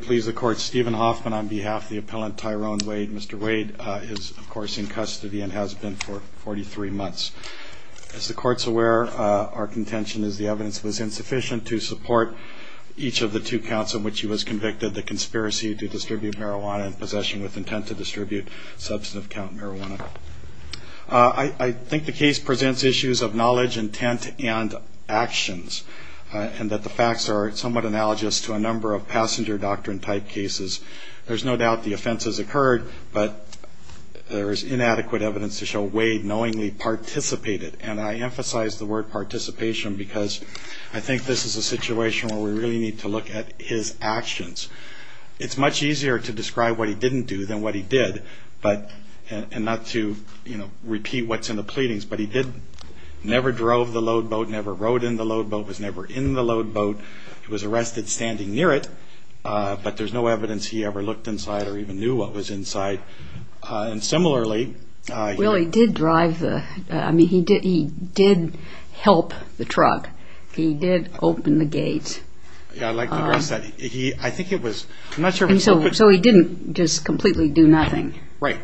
please the court Stephen Hoffman on behalf of the appellant Tyrone Wade. Mr. Wade is of course in custody and has been for 43 months. As the court's aware, our contention is the evidence was insufficient to support each of the two counts in which he was convicted, the conspiracy to distribute marijuana and possession with intent to distribute substantive count marijuana. I think the case presents issues of knowledge, intent, and actions, and that the facts are somewhat analogous to a number of passenger doctor and type cases. There's no doubt the offenses occurred, but there is inadequate evidence to show Wade knowingly participated, and I emphasize the word participation because I think this is a situation where we really need to look at his actions. It's much easier to describe what he didn't do than what he did, and not to repeat what's in the pleadings, but he never drove the load boat, never rode in the load boat, was never in the load boat. He was arrested standing near it, but there's no evidence he ever looked inside or even knew what was inside. And similarly... Well he did drive the, I mean he did help the truck. He did open the gate. Yeah I'd like to address that. I think it was, I'm not sure... So he didn't just completely do nothing. Right.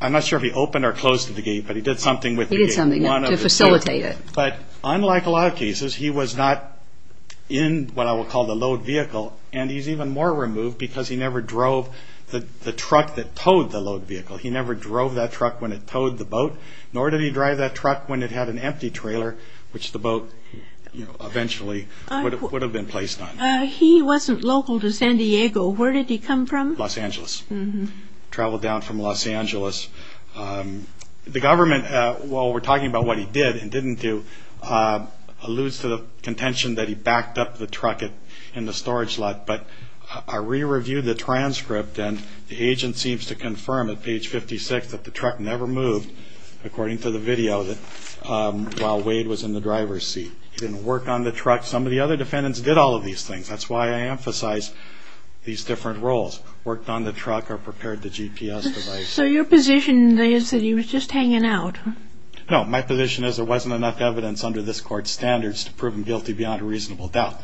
I'm not sure if he opened or closed the gate, but he did something with the gate. He did something to facilitate it. But unlike a lot of cases, he was not in what I will call the load vehicle, and he's even more remote. Because he never drove the truck that towed the load vehicle. He never drove that truck when it towed the boat, nor did he drive that truck when it had an empty trailer, which the boat eventually would have been placed on. He wasn't local to San Diego. Where did he come from? Los Angeles. Traveled down from Los Angeles. The government, while we're talking about what he did and didn't do, alludes to the contention that he backed up the truck in the storage lot. But I re-reviewed the transcript and the agent seems to confirm at page 56 that the truck never moved, according to the video, while Wade was in the driver's seat. He didn't work on the truck. Some of the other defendants did all of these things. That's why I emphasize these different roles. Worked on the truck or prepared the GPS device. So your position is that he was just hanging out? No, my position is there wasn't enough evidence under this court's standards to prove him guilty beyond a reasonable doubt.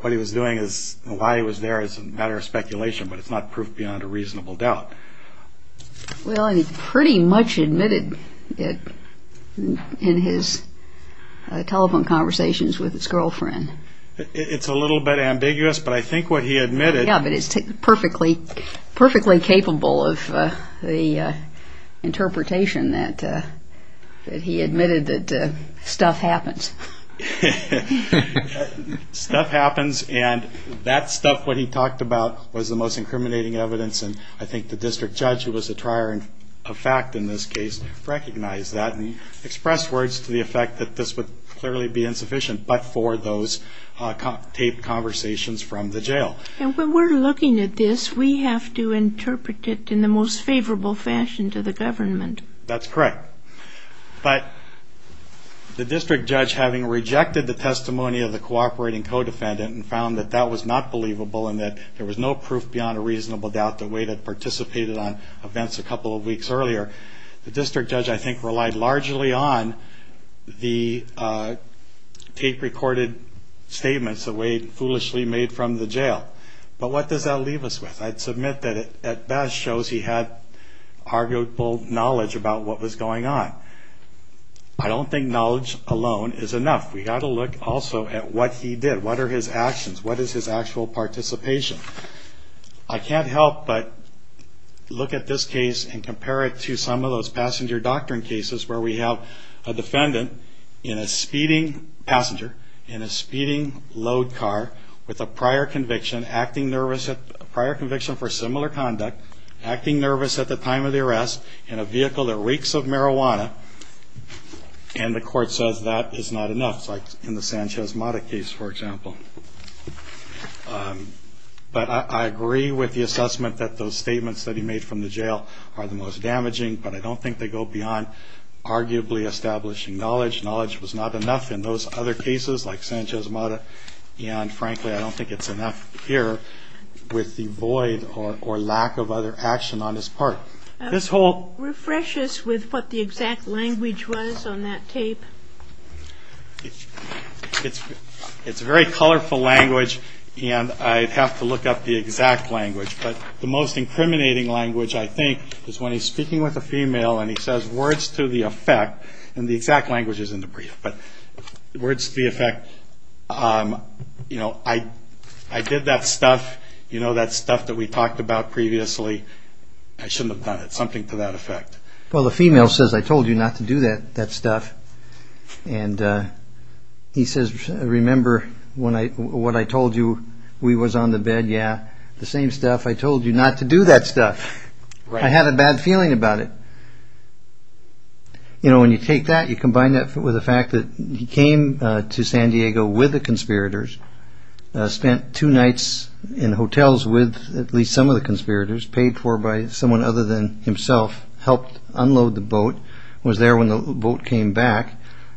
What he was doing and why he was there is a matter of speculation, but it's not proof beyond a reasonable doubt. Well, he pretty much admitted it in his telephone conversations with his girlfriend. It's a little bit ambiguous, but I think what he admitted... He admitted that stuff happens. Stuff happens and that stuff, what he talked about, was the most incriminating evidence and I think the district judge, who was a trier of fact in this case, recognized that and expressed words to the effect that this would clearly be insufficient but for those taped conversations from the jail. And when we're looking at this, we have to interpret it in the most favorable fashion to the government. That's correct. But the district judge, having rejected the testimony of the cooperating co-defendant and found that that was not believable and that there was no proof beyond a reasonable doubt that Wade had participated on events a couple of weeks earlier, the district judge, I think, relied largely on the tape-recorded statements that Wade foolishly made from the jail. But what does that leave us with? I'd submit that it at best shows he had arguable knowledge about what was going on. I don't think knowledge alone is enough. We've got to look also at what he did. What are his actions? What is his actual participation? I can't help but look at this case and compare it to some of those passenger doctrine cases where we have a defendant in a speeding passenger, in a speeding load car, with a prior conviction, acting nervous, a prior conviction for similar conduct, acting nervous at the time of the arrest, in a vehicle that reeks of marijuana, and the court says that is not enough, like in the Sanchez-Mata case, for example. But I agree with the assessment that those statements that he made from the jail are the most damaging, but I don't think they go beyond arguably establishing knowledge. Knowledge was not enough in those other cases, like Sanchez-Mata, and, frankly, I don't think it's enough here with the void or lack of other action on his part. This whole... Refresh us with what the exact language was on that tape. It's very colorful language, and I'd have to look up the exact language, but the most incriminating language, I think, is when he's speaking with a female and he says words to the effect, and the exact language is in the brief, but words to the effect, you know, I did that stuff, you know, that stuff that we talked about previously, I shouldn't have done it, something to that effect. Well, the female says, I told you not to do that stuff, and he says, remember what I told you, we was on the bed, yeah, the same stuff, I told you not to do that stuff, I had a bad feeling about it. You know, when you take that, you combine that with the fact that he came to San Diego with the conspirators, spent two nights in hotels with at least some of the conspirators, paid for by someone other than himself, helped unload the boat, was there when the boat came back,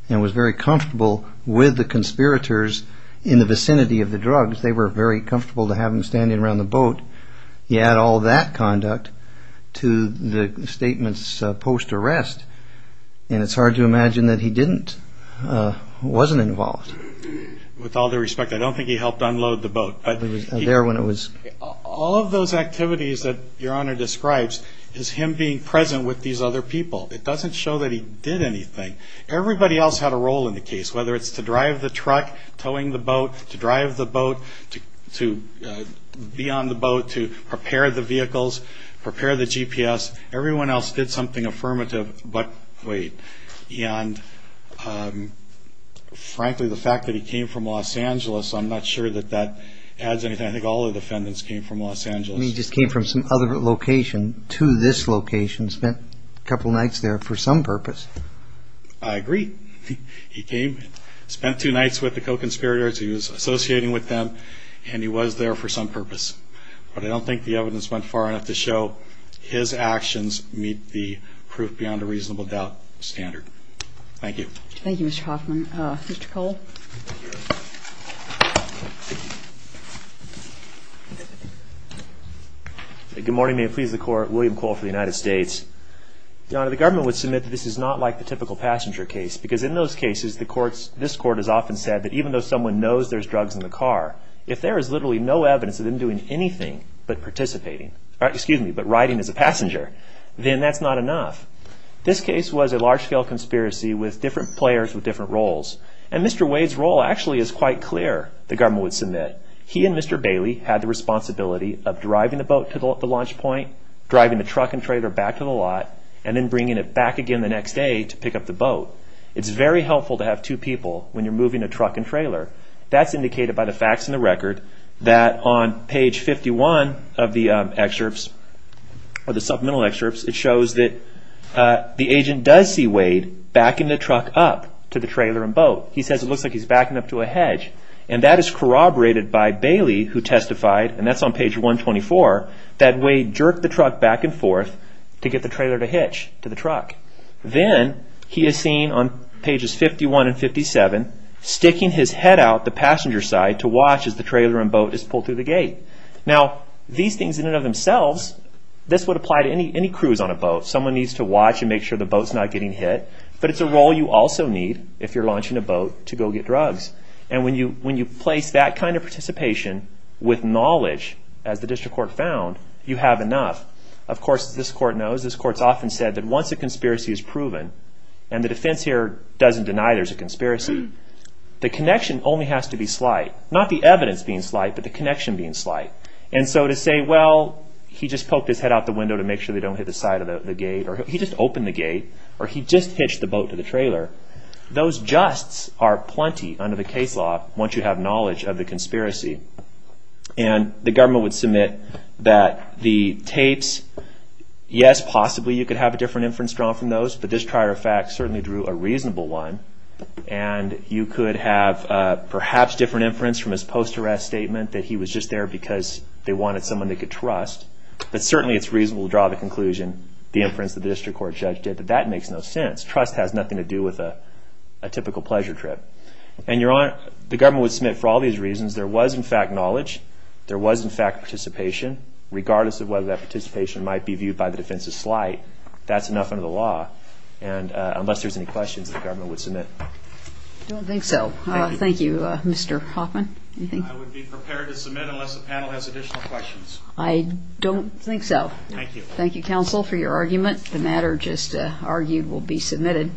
and was very comfortable with the conspirators in the vicinity of the drugs. Sometimes they were very comfortable to have him standing around the boat. He had all that conduct to the statements post-arrest, and it's hard to imagine that he didn't, wasn't involved. With all due respect, I don't think he helped unload the boat, but he was there when it was. All of those activities that your Honor describes is him being present with these other people. It doesn't show that he did anything. Everybody else had a role in the case, whether it's to drive the truck, towing the boat, to drive the boat, to be on the boat, to prepare the vehicles, prepare the GPS. Everyone else did something affirmative, but wait, and frankly, the fact that he came from Los Angeles, I'm not sure that that adds anything. I think all the defendants came from Los Angeles. He just came from some other location to this location, spent a couple nights there for some purpose. I agree. He came, spent two nights with the co-conspirators, he was associating with them, and he was there for some purpose. But I don't think the evidence went far enough to show his actions meet the proof beyond a reasonable doubt standard. Thank you. Thank you, Mr. Hoffman. Mr. Cole. Good morning. May it please the Court. William Cole for the United States. Your Honor, the government would submit that this is not like the typical passenger case because in those cases, this Court has often said that even though someone knows there's drugs in the car, if there is literally no evidence of them doing anything but participating, excuse me, but riding as a passenger, then that's not enough. This case was a large-scale conspiracy with different players with different roles. And Mr. Wade's role actually is quite clear, the government would submit. He and Mr. Bailey had the responsibility of driving the boat to the launch point, driving the truck and trailer back to the lot, and then bringing it back again the next day to pick up the boat. It's very helpful to have two people when you're moving a truck and trailer. That's indicated by the facts in the record that on page 51 of the supplemental excerpts, it shows that the agent does see Wade backing the truck up to the trailer and boat. He says it looks like he's backing up to a hedge. And that is corroborated by Bailey who testified, and that's on page 124, that Wade jerked the truck back and forth to get the trailer to hitch to the truck. Then he is seen on pages 51 and 57 sticking his head out the passenger side to watch as the trailer and boat is pulled through the gate. Now, these things in and of themselves, this would apply to any cruise on a boat. Someone needs to watch and make sure the boat's not getting hit. But it's a role you also need if you're launching a boat to go get drugs. And when you place that kind of participation with knowledge, as the district court found, you have enough. Of course, as this court knows, this court's often said that once a conspiracy is proven, and the defense here doesn't deny there's a conspiracy, the connection only has to be slight. And so to say, well, he just poked his head out the window to make sure they don't hit the side of the gate, or he just opened the gate, or he just hitched the boat to the trailer, those justs are plenty under the case law once you have knowledge of the conspiracy. And the government would submit that the tapes, yes, possibly you could have a different inference drawn from those, but this prior fact certainly drew a reasonable one. And you could have perhaps different inference from his post-arrest statement that he was just there because they wanted someone they could trust. But certainly it's reasonable to draw the conclusion, the inference that the district court judge did, that that makes no sense. Trust has nothing to do with a typical pleasure trip. And the government would submit for all these reasons. There was, in fact, knowledge. There was, in fact, participation. Regardless of whether that participation might be viewed by the defense as slight, that's enough under the law. And unless there's any questions, the government would submit. I don't think so. Thank you, Mr. Hoffman. I would be prepared to submit unless the panel has additional questions. I don't think so. Thank you. Thank you, counsel, for your argument. The matter just argued will be submitted.